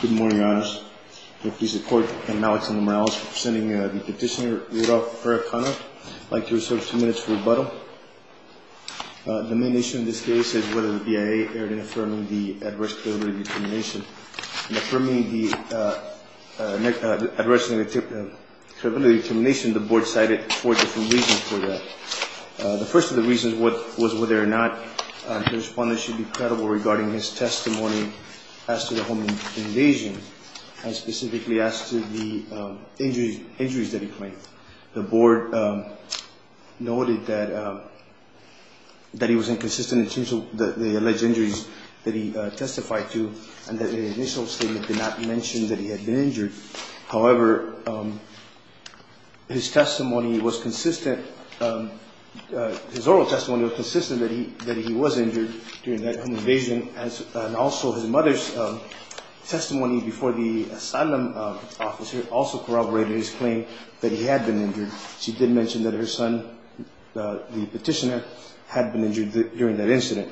Good morning, Your Honors. I thank the Court and Alex and the Morales for presenting the petitioner, Rudolph Perekhanov. I'd like to reserve a few minutes for rebuttal. The main issue in this case is whether the BIA erred in affirming the adverse curability determination. In affirming the adverse curability determination, the Board cited four different reasons for that. The first of the reasons was whether or not the respondent should be credible regarding his testimony as to the home invasion and specifically as to the injuries that he claimed. The Board noted that he was inconsistent in terms of the alleged injuries that he testified to and that the initial statement did not mention that he had been injured. However, his testimony was consistent, his oral testimony was consistent that he was injured during that home invasion and also his mother's testimony before the asylum officer also corroborated his claim that he had been injured. She did mention that her son, the petitioner, had been injured during that incident.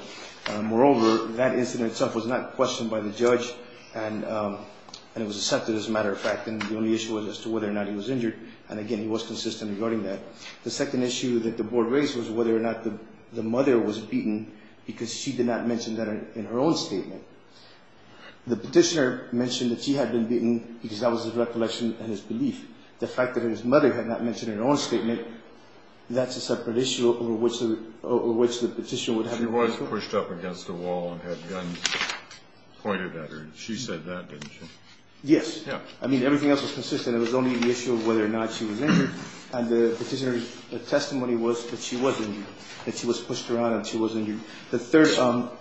Moreover, that incident itself was not questioned by the judge and it was accepted as a matter of fact and the only issue was as to whether or not he was injured and again he was consistent regarding that. The second issue that the Board raised was whether or not the mother was beaten because she did not mention that in her own statement. The petitioner mentioned that she had been beaten because that was his recollection and his belief. The fact that his mother had not mentioned it in her own statement, that's a separate issue over which the petitioner would have been responsible. She was pushed up against a wall and had guns pointed at her. She said that, didn't she? Yes. Yeah. I mean everything else was consistent. It was only the issue of whether or not she was injured and the petitioner's testimony was that she was injured, that she was pushed around and she was injured. The third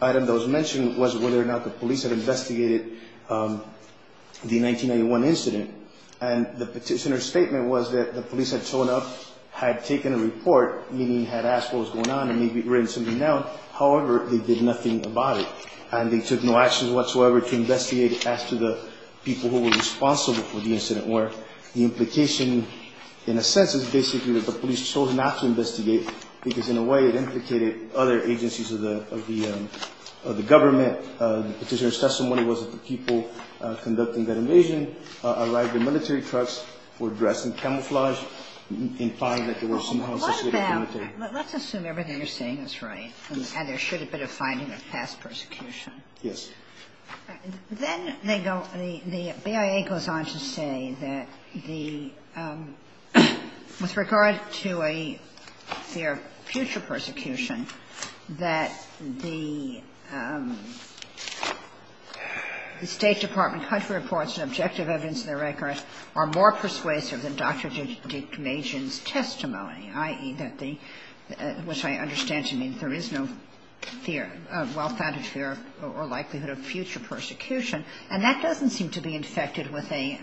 item that was mentioned was whether or not the police had investigated the 1991 incident and the petitioner's statement was that the police had shown up, had taken a report, meaning had asked what was going on and maybe written something down. However, they did nothing about it and they took no action whatsoever to investigate as to the people who were responsible for the incident where the implication in a sense is basically that the police chose not to investigate because in a way it implicated other agencies as well. It was not the case of the government. The petitioner's testimony was that the people conducting that invasion arrived in military trucks, were dressed in camouflage, implying that they were somehow associated with the military. Let's assume everything you're saying is right. Yes. And there should have been a finding of past persecution. Yes. Then they go, the BIA goes on to say that the, with regard to a fear of future persecution, that the State Department country reports and objective evidence in the record are more persuasive than Dr. Dickmajian's testimony, i.e., that the, which I understand to mean there is no fear, well-founded fear or likelihood of future persecution. And that doesn't seem to be infected with a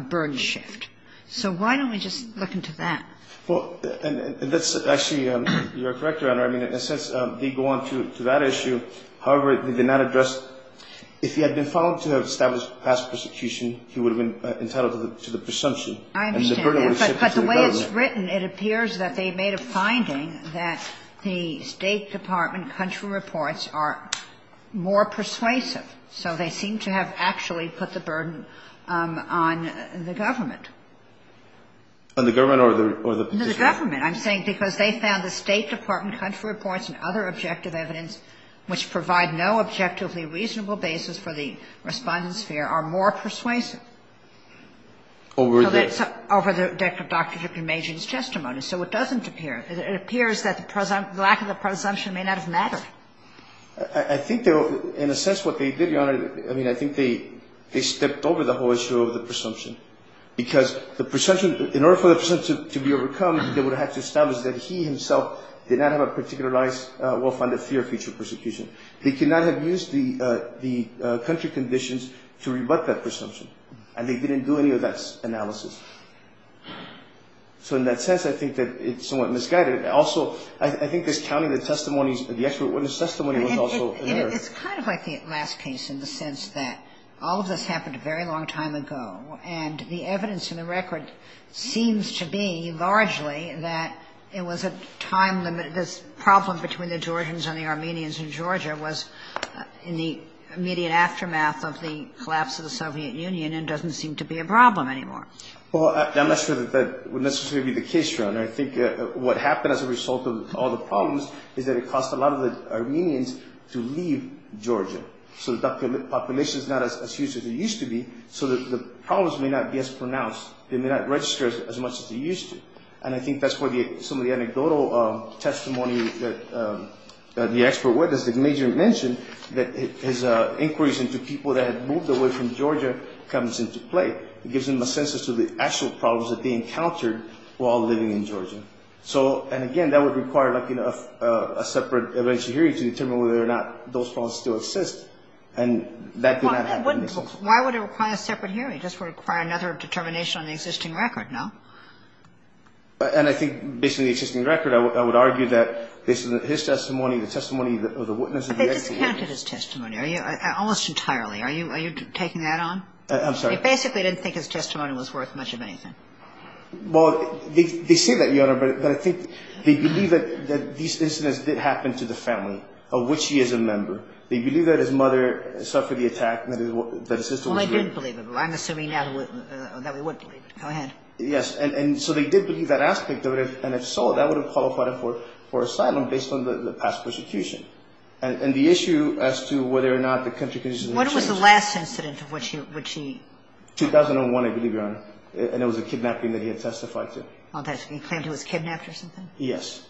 burden shift. So why don't we just look into that? Well, and that's actually your correct, Your Honor. I mean, in a sense, they go on to that issue. However, they did not address, if he had been found to have established past persecution, he would have been entitled to the presumption. And the burden would have shifted to the government. But the way it's written, it appears that they made a finding that the State Department country reports are more persuasive. So they seem to have actually put the burden on the government. On the government or the position? The government. I'm saying because they found the State Department country reports and other objective evidence, which provide no objectively reasonable basis for the respondents' fear, are more persuasive. Over the? Over Dr. Dripkin-Majian's testimony. So it doesn't appear. It appears that the lack of the presumption may not have mattered. I think, in a sense, what they did, Your Honor, I mean, I think they stepped over the whole issue of the presumption. Because the presumption, in order for the presumption to be overcome, they would have to establish that he himself did not have a particularized, well-founded fear of future persecution. They could not have used the country conditions to rebut that presumption. And they didn't do any of that analysis. So in that sense, I think that it's somewhat misguided. Also, I think this counting the testimonies, the expert witness testimony was also an error. It's kind of like the last case in the sense that all of this happened a very long time ago. And the evidence in the record seems to be largely that it was a time limit. This problem between the Georgians and the Armenians in Georgia was in the immediate aftermath of the collapse of the Soviet Union and doesn't seem to be a problem anymore. Well, I'm not sure that that would necessarily be the case, Your Honor. I think what happened as a result of all the problems is that it cost a lot of the Armenians to leave Georgia. So the population is not as huge as it used to be. So the problems may not be as pronounced. They may not register as much as they used to. And I think that's where some of the anecdotal testimony that the expert witness, the major mentioned, that his inquiries into people that had moved away from Georgia comes into play. It gives him a sense as to the actual problems that they encountered while living in Georgia. And, again, that would require a separate eventual hearing to determine whether or not those problems still exist. And that did not happen in this instance. Why would it require a separate hearing? It just would require another determination on the existing record, no? And I think based on the existing record, I would argue that his testimony, the testimony of the witness of the expert witness. But they discounted his testimony almost entirely. Are you taking that on? I'm sorry. They basically didn't think his testimony was worth much of anything. Well, they say that, Your Honor, but I think they believe that these incidents did happen to the family of which he is a member. They believe that his mother suffered the attack, that his sister was raped. Well, they didn't believe it. I'm assuming now that they would believe it. Go ahead. Yes. And so they did believe that aspect of it. And if so, that would have qualified him for asylum based on the past persecution. And the issue as to whether or not the country conditions had changed. When was the last incident of which he? 2001, I believe, Your Honor. And it was a kidnapping that he had testified to. He claimed he was kidnapped or something? Yes.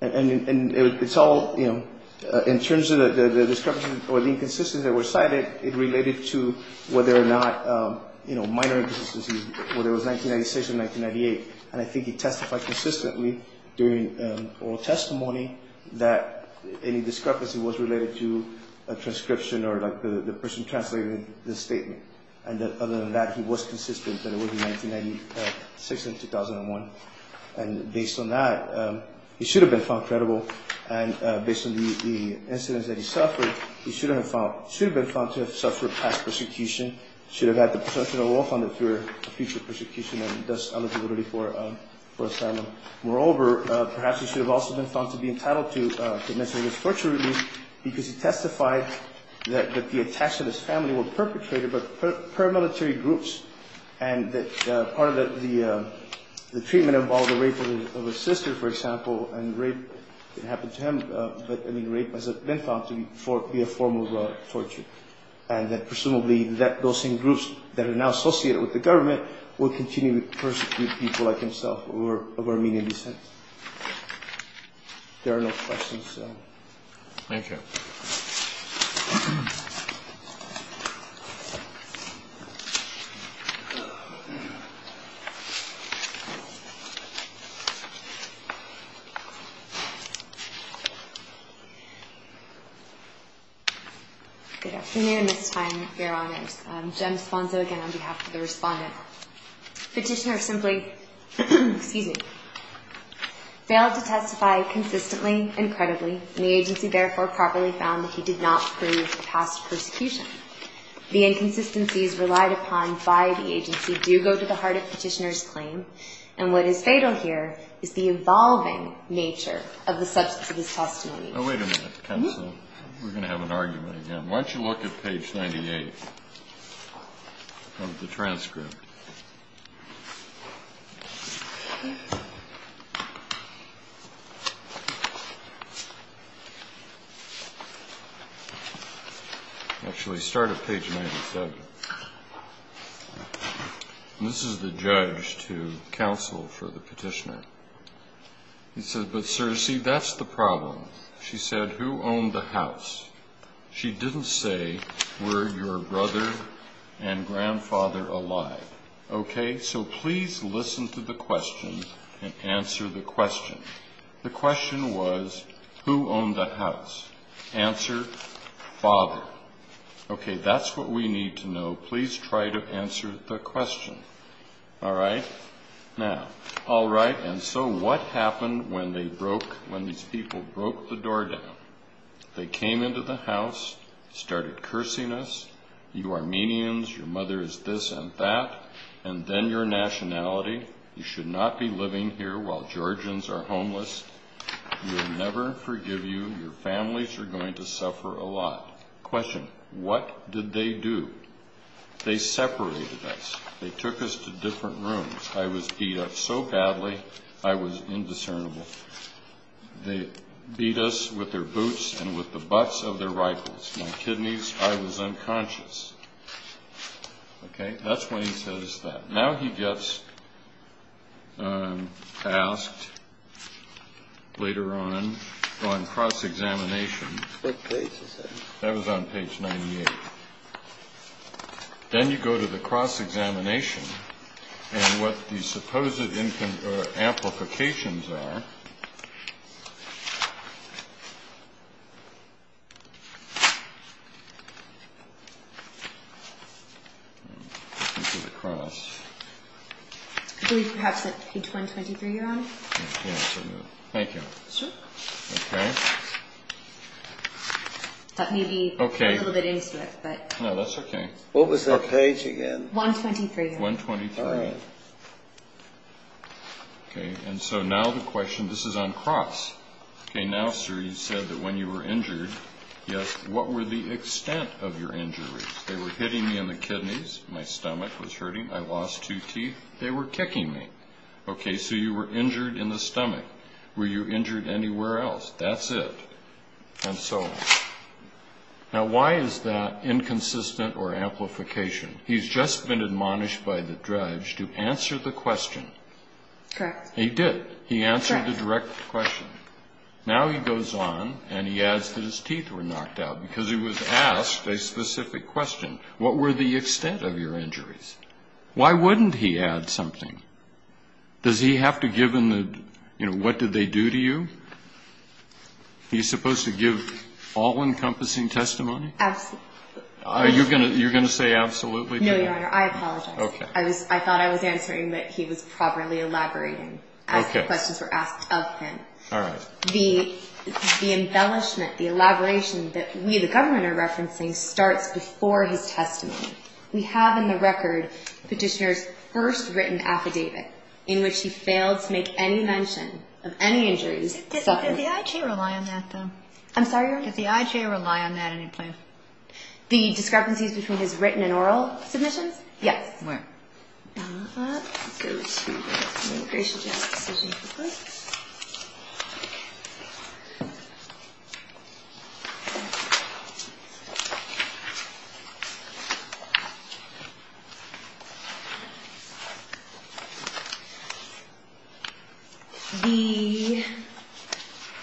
And it's all, you know, in terms of the discrepancy or the inconsistency that were cited, it related to whether or not, you know, minor inconsistencies, whether it was 1996 or 1998. And I think he testified consistently during oral testimony that any discrepancy was related to a transcription or like the person translated the statement. And other than that, he was consistent that it was in 1996 and 2001. And based on that, he should have been found credible. And based on the incidents that he suffered, he should have been found to have suffered past persecution, should have had the potential to walk on it for future persecution and thus eligibility for asylum. Moreover, perhaps he should have also been found to be entitled to mention his torture release because he testified that the attachment of his family were perpetrated by paramilitary groups. And that part of the treatment involved the rape of his sister, for example. And rape didn't happen to him. But, I mean, rape has been found to be a form of torture. And that presumably those same groups that are now associated with the government will continue to persecute people like himself of Armenian descent. There are no questions. Thank you. Thank you. Good afternoon. This time, your honors. Again, on behalf of the respondent. Petitioner simply, excuse me, failed to testify consistently and credibly. And the agency therefore properly found that he did not prove past persecution. The inconsistencies relied upon by the agency do go to the heart of petitioner's claim. And what is fatal here is the evolving nature of the substance of his testimony. Now, wait a minute, counsel. We're going to have an argument again. Why don't you look at page 98 of the transcript. Actually, start at page 97. This is the judge to counsel for the petitioner. He says, but sir, see, that's the problem. She said, who owned the house? She didn't say, were your brother and grandfather alive? Okay. So please listen to the question and answer the question. The question was, who owned the house? Answer, father. Okay. That's what we need to know. Please try to answer the question. All right. Now, all right. And so what happened when they broke, when these people broke the door down? They came into the house, started cursing us. You Armenians, your mother is this and that, and then your nationality. You should not be living here while Georgians are homeless. We will never forgive you. Your families are going to suffer a lot. Question, what did they do? They separated us. They took us to different rooms. I was beat up so badly, I was indiscernible. They beat us with their boots and with the butts of their rifles. My kidneys, I was unconscious. Okay. That's when he says that. Now he gets asked later on, on cross-examination. What page is that? That was on page 98. Then you go to the cross-examination, and what the supposed amplifications are. I believe perhaps it's page 123, Your Honor. Thank you. Sure. Okay. That may be a little bit intimate. No, that's okay. What was that page again? 123, Your Honor. 123. All right. Okay, and so now the question, this is on cross. Okay, now, sir, you said that when you were injured, yes, what were the extent of your injuries? They were hitting me in the kidneys. My stomach was hurting. I lost two teeth. They were kicking me. Okay, so you were injured in the stomach. Were you injured anywhere else? That's it, and so on. Now, why is that inconsistent or amplification? He's just been admonished by the judge to answer the question. Correct. He did. He answered the direct question. Now he goes on, and he adds that his teeth were knocked out because he was asked a specific question. What were the extent of your injuries? Why wouldn't he add something? Does he have to give him the, you know, what did they do to you? He's supposed to give all-encompassing testimony? Absolutely. You're going to say absolutely? No, Your Honor, I apologize. Okay. I thought I was answering, but he was probably elaborating as the questions were asked of him. All right. The embellishment, the elaboration that we, the government, are referencing starts before his testimony. We have in the record petitioner's first written affidavit in which he failed to make any mention of any injuries. Does the IGA rely on that, though? I'm sorry, Your Honor? Does the IGA rely on that in any place? The discrepancies between his written and oral submissions? Yes. Where? Go to the immigration judge's decision, please. The,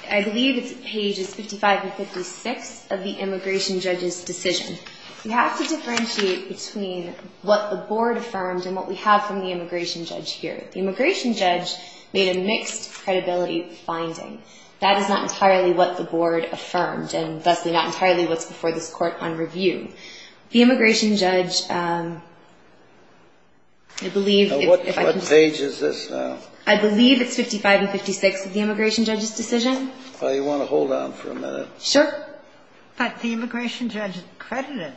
I believe it's pages 55 and 56 of the immigration judge's decision. We have to differentiate between what the board affirmed and what we have from the immigration judge here. The immigration judge made a mixed credibility finding. That is not entirely what the board affirmed, and thusly not entirely what's before this court on review. The immigration judge, I believe if I can see. What page is this now? I believe it's 55 and 56 of the immigration judge's decision. Well, you want to hold on for a minute? Sure. But the immigration judge credited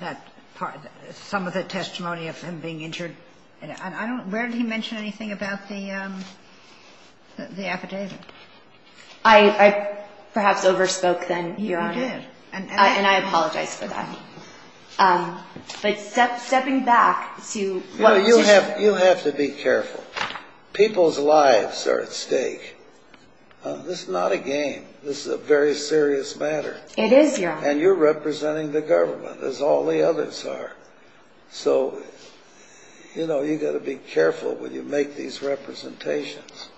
that part, some of the testimony of him being injured. And I don't, where did he mention anything about the affidavit? I perhaps overspoke then, Your Honor. You did. And I apologize for that. But stepping back to what the petitioner said. You have to be careful. People's lives are at stake. This is not a game. This is a very serious matter. It is, Your Honor. And you're representing the government, as all the others are. So, you know, you've got to be careful when you make these representations.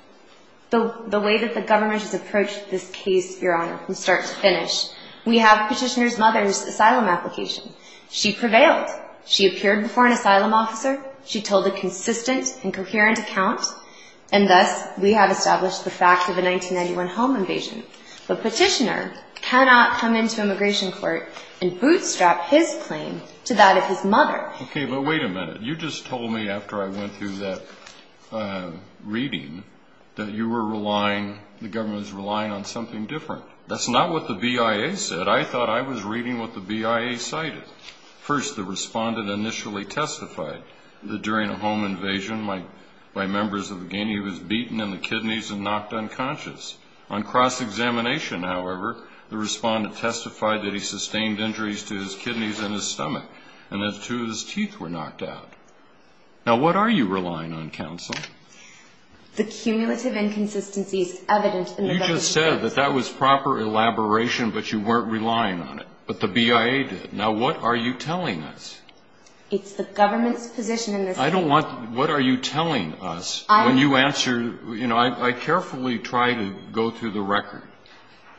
The way that the government has approached this case, Your Honor, from start to finish. We have petitioner's mother's asylum application. She prevailed. She appeared before an asylum officer. She told a consistent and coherent account. And thus, we have established the fact of a 1991 home invasion. The petitioner cannot come into immigration court and bootstrap his claim to that of his mother. Okay, but wait a minute. You just told me after I went through that reading that you were relying, the government was relying on something different. That's not what the BIA said. I thought I was reading what the BIA cited. First, the respondent initially testified that during a home invasion by members of the gang, he was beaten in the kidneys and knocked unconscious. On cross-examination, however, the respondent testified that he sustained injuries to his kidneys and his stomach, and that two of his teeth were knocked out. Now, what are you relying on, counsel? The cumulative inconsistencies evident in the record. You just said that that was proper elaboration, but you weren't relying on it. But the BIA did. Now, what are you telling us? It's the government's position in this case. I don't want to. What are you telling us? When you answer, you know, I carefully try to go through the record,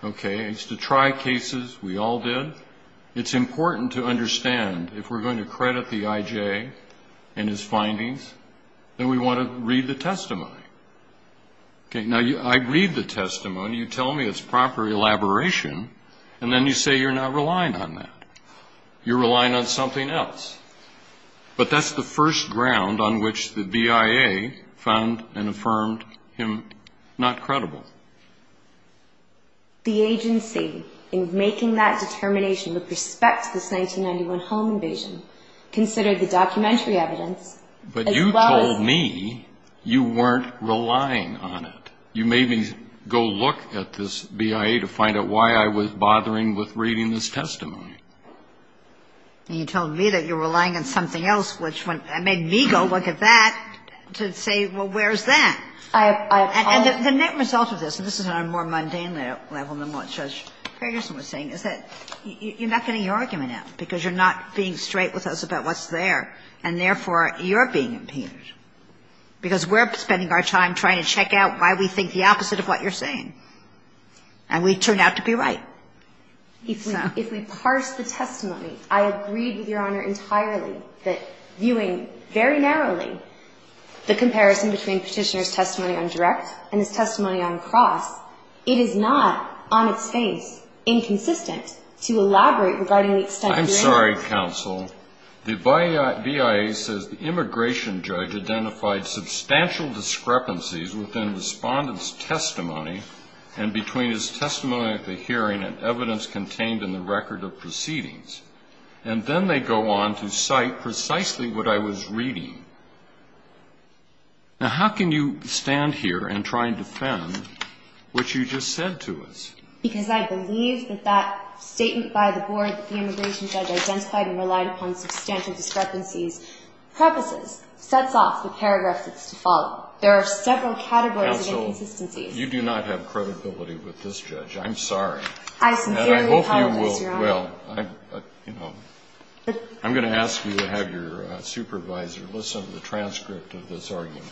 okay? I used to try cases. We all did. It's important to understand if we're going to credit the IJ and his findings, then we want to read the testimony. Okay, now, I read the testimony. You tell me it's proper elaboration, and then you say you're not relying on that. You're relying on something else. But that's the first ground on which the BIA found and affirmed him not credible. The agency, in making that determination with respect to this 1991 home invasion, considered the documentary evidence as well as the testimony. But you told me you weren't relying on it. You made me go look at this BIA to find out why I was bothering with reading this testimony. And you told me that you were relying on something else, which made me go look at that to say, well, where's that? And the net result of this, and this is on a more mundane level than what Judge Ferguson was saying, is that you're not getting your argument out because you're not being straight with us about what's there, and therefore, you're being impeded. Because we're spending our time trying to check out why we think the opposite of what you're saying. And we turn out to be right. So. If we parse the testimony, I agree with Your Honor entirely that, viewing very narrowly the comparison between Petitioner's testimony on direct and his testimony on cross, it is not, on its face, inconsistent to elaborate regarding the extent of your interest. I'm sorry, counsel. The BIA says the immigration judge identified substantial discrepancies within Respondent's testimony and between his testimony at the hearing and evidence contained in the record of proceedings. And then they go on to cite precisely what I was reading. Now, how can you stand here and try and defend what you just said to us? Because I believe that that statement by the board that the immigration judge identified and relied upon substantial discrepancies purposes, sets off the paragraph that's to fall. There are several categories of inconsistencies. Counsel, you do not have credibility with this judge. I'm sorry. I sincerely apologize, Your Honor. And I hope you will. I'm going to ask you to have your supervisor listen to the transcript of this argument.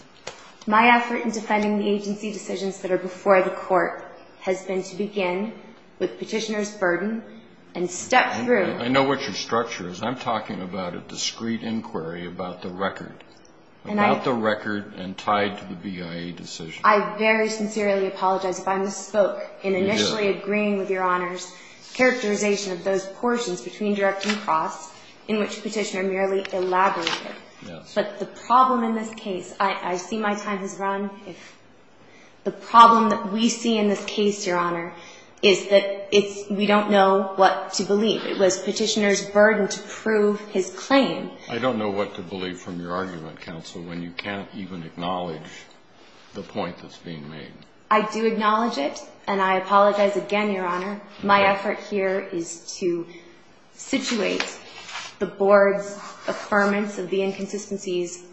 My effort in defending the agency decisions that are before the Court has been to begin with Petitioner's burden and step through. I know what your structure is. I'm talking about a discrete inquiry about the record, about the record and tied to the BIA decision. I very sincerely apologize if I misspoke in initially agreeing with Your Honor's characterization of those portions between direct and cross in which Petitioner merely elaborated. Yes. But the problem in this case, I see my time has run. The problem that we see in this case, Your Honor, is that we don't know what to believe. It was Petitioner's burden to prove his claim. I don't know what to believe from your argument, Counsel, when you can't even acknowledge the point that's being made. I do acknowledge it. And I apologize again, Your Honor. My effort here is to situate the Board's affirmance of the inconsistencies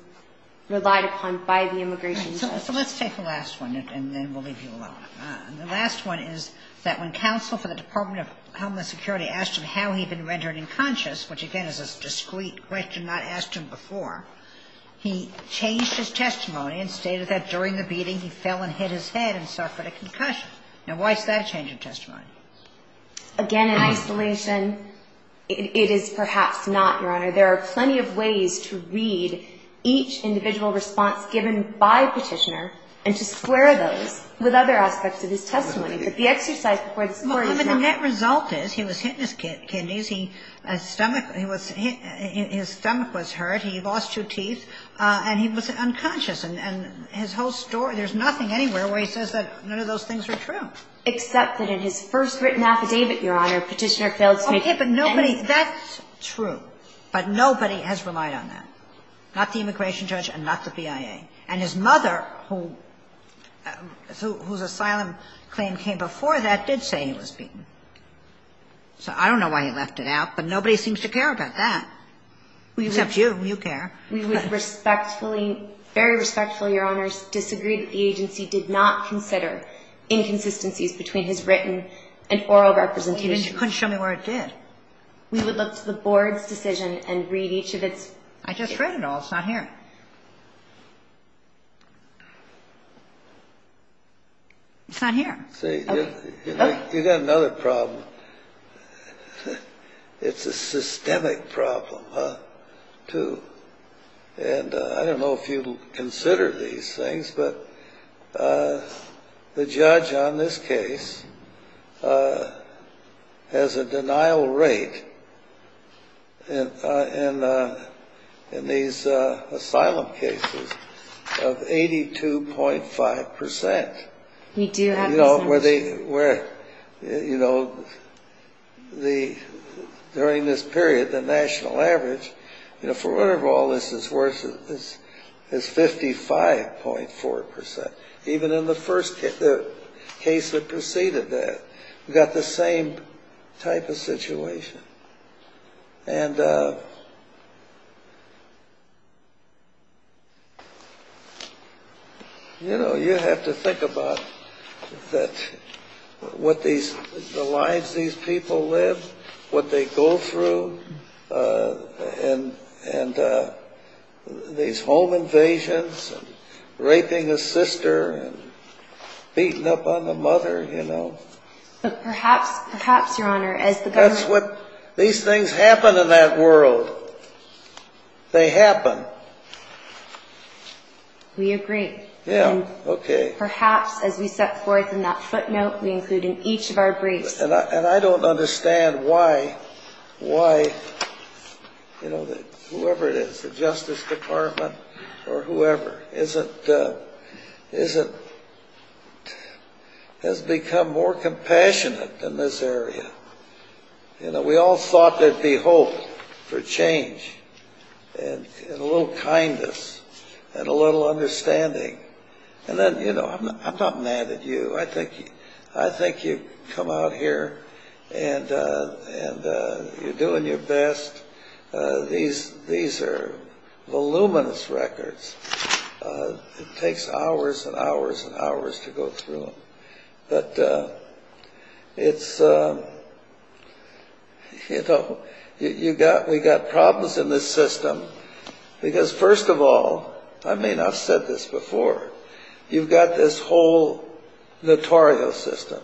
relied upon by the immigration judge. So let's take the last one and then we'll leave you alone. The last one is that when counsel for the Department of Homeland Security asked him how he had been rendered unconscious, which again is a discrete question not asked to him before, he changed his testimony and stated that during the beating he fell and hit his head and suffered a concussion. Now, why is that a change of testimony? Again, in isolation, it is perhaps not, Your Honor. There are plenty of ways to read each individual response given by Petitioner and to square those with other aspects of his testimony. But the exercise before the story is not. Well, I mean, the net result is he was hit in his kidneys. His stomach was hurt. He lost two teeth. And he was unconscious. And his whole story, there's nothing anywhere where he says that none of those things are true. Except that in his first written affidavit, Your Honor, Petitioner failed to make any statements. Okay, but nobody – that's true. But nobody has relied on that. Not the immigration judge and not the BIA. And his mother, whose asylum claim came before that, did say he was beaten. So I don't know why he left it out, but nobody seems to care about that. Except you. You care. We would respectfully, very respectfully, Your Honors, disagree that the agency did not consider inconsistencies between his written and oral representation. But you couldn't show me where it did. We would look to the board's decision and read each of its – I just read it all. It's not here. It's not here. See, you've got another problem. It's a systemic problem, too. And I don't know if you consider these things, but the judge on this case has a denial rate in these asylum cases of 82.5 percent. We do have those numbers. Where, you know, during this period, the national average, for whatever all this is worth, is 55.4 percent, even in the first case that preceded that. We've got the same type of situation. And, you know, you have to think about the lives these people live, what they go through, and these home invasions and raping a sister and beating up on the mother, you know. But perhaps, Your Honor, as the government – That's what – these things happen in that world. They happen. We agree. Yeah, okay. And perhaps, as we set forth in that footnote, we include in each of our briefs – And I don't understand why, you know, whoever it is, the Justice Department or whoever, isn't – has become more compassionate in this area. You know, we all thought there'd be hope for change and a little kindness and a little understanding. And then, you know, I'm not mad at you. I think you've come out here and you're doing your best. These are voluminous records. It takes hours and hours and hours to go through them. But it's – you know, you've got – we've got problems in this system because, first of all – I mean, I've said this before – you've got this whole notorious system.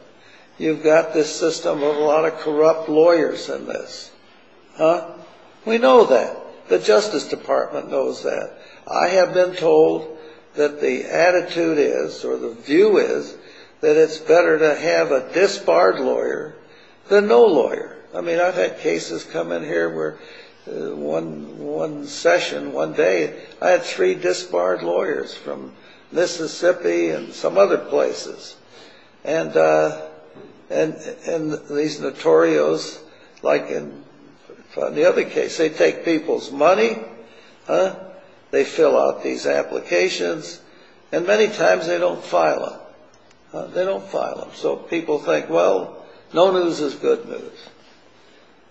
You've got this system of a lot of corrupt lawyers in this. Huh? We know that. The Justice Department knows that. I have been told that the attitude is, or the view is, that it's better to have a disbarred lawyer than no lawyer. I mean, I've had cases come in here where one session, one day, I had three disbarred lawyers from Mississippi and some other places. And these notorios, like in the other case, they take people's money. Huh? They fill out these applications. And many times they don't file them. They don't file them. So people think, well, no news is good news.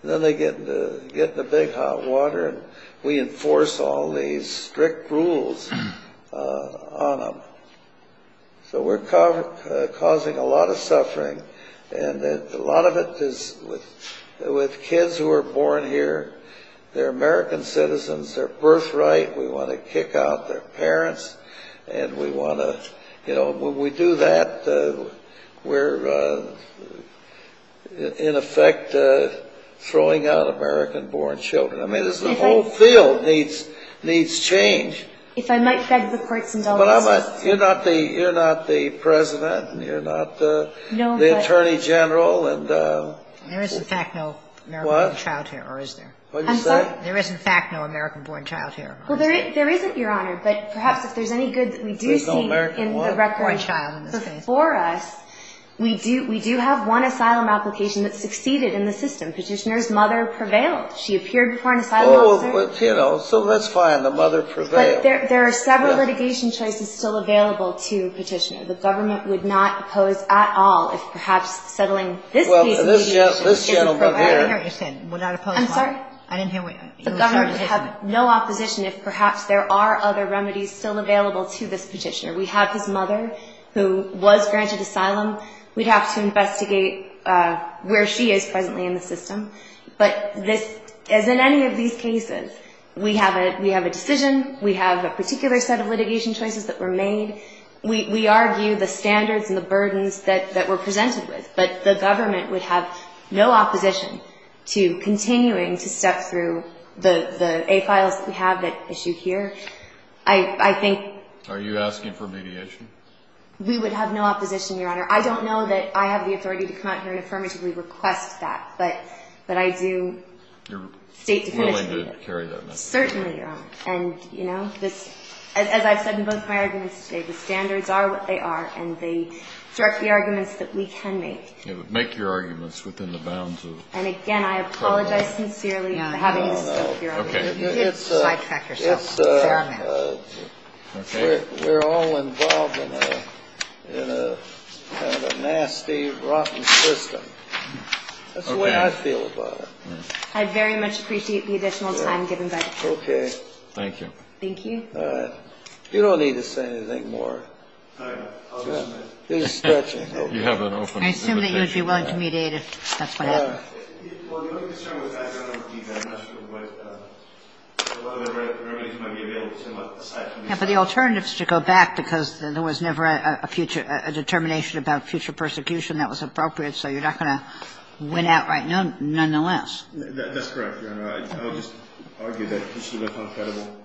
Then they get in the big hot water and we enforce all these strict rules on them. So we're causing a lot of suffering. And a lot of it is with kids who are born here. They're American citizens. They're birthright. We want to kick out their parents. And we want to, you know, when we do that, we're in effect throwing out American-born children. I mean, the whole field needs change. If I might beg the courts in Delaware. But you're not the president. You're not the attorney general. There is, in fact, no American-born child here, or is there? I'm sorry? There is, in fact, no American-born child here. Well, there isn't, Your Honor. But perhaps if there's any good that we do see in the record for us, we do have one asylum application that succeeded in the system. Petitioner's mother prevailed. She appeared before an asylum officer. Oh, but, you know, so that's fine. The mother prevailed. But there are several litigation choices still available to Petitioner. The government would not oppose at all if perhaps settling this case. Well, this gentleman here. I didn't hear what you said. Would not oppose. I'm sorry? I didn't hear what you said. The government would have no opposition if perhaps there are other remedies still available to this Petitioner. We have his mother who was granted asylum. We'd have to investigate where she is presently in the system. But as in any of these cases, we have a decision. We have a particular set of litigation choices that were made. We argue the standards and the burdens that were presented with. But the government would have no opposition to continuing to step through the A-files that we have that issue here. Are you asking for mediation? We would have no opposition, Your Honor. I don't know that I have the authority to come out here and affirmatively request that. But I do state definitively. You're willing to carry that message? Certainly, Your Honor. And, you know, as I've said in both my arguments today, the standards are what they are, and they direct the arguments that we can make. Make your arguments within the bounds of the federal law. And, again, I apologize sincerely for having to step here. No, no, no. Okay. You did sidetrack yourself. It's paramount. We're all involved in a kind of nasty, rotten system. That's the way I feel about it. I very much appreciate the additional time given by the Court. Okay. Thank you. Thank you. All right. You don't need to say anything more. All right. I'll just. He's stretching. I assume that you would be willing to mediate if that's what happened. Well, the only concern with that, Your Honor, would be that I'm not sure what other remedies might be available to him aside from these. Yeah, but the alternative is to go back because there was never a future – a determination about future persecution that was appropriate, so you're not going to win outright, nonetheless. That's correct, Your Honor. I would just argue that he should have been found credible.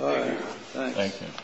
Okay. Thank you. Thank you.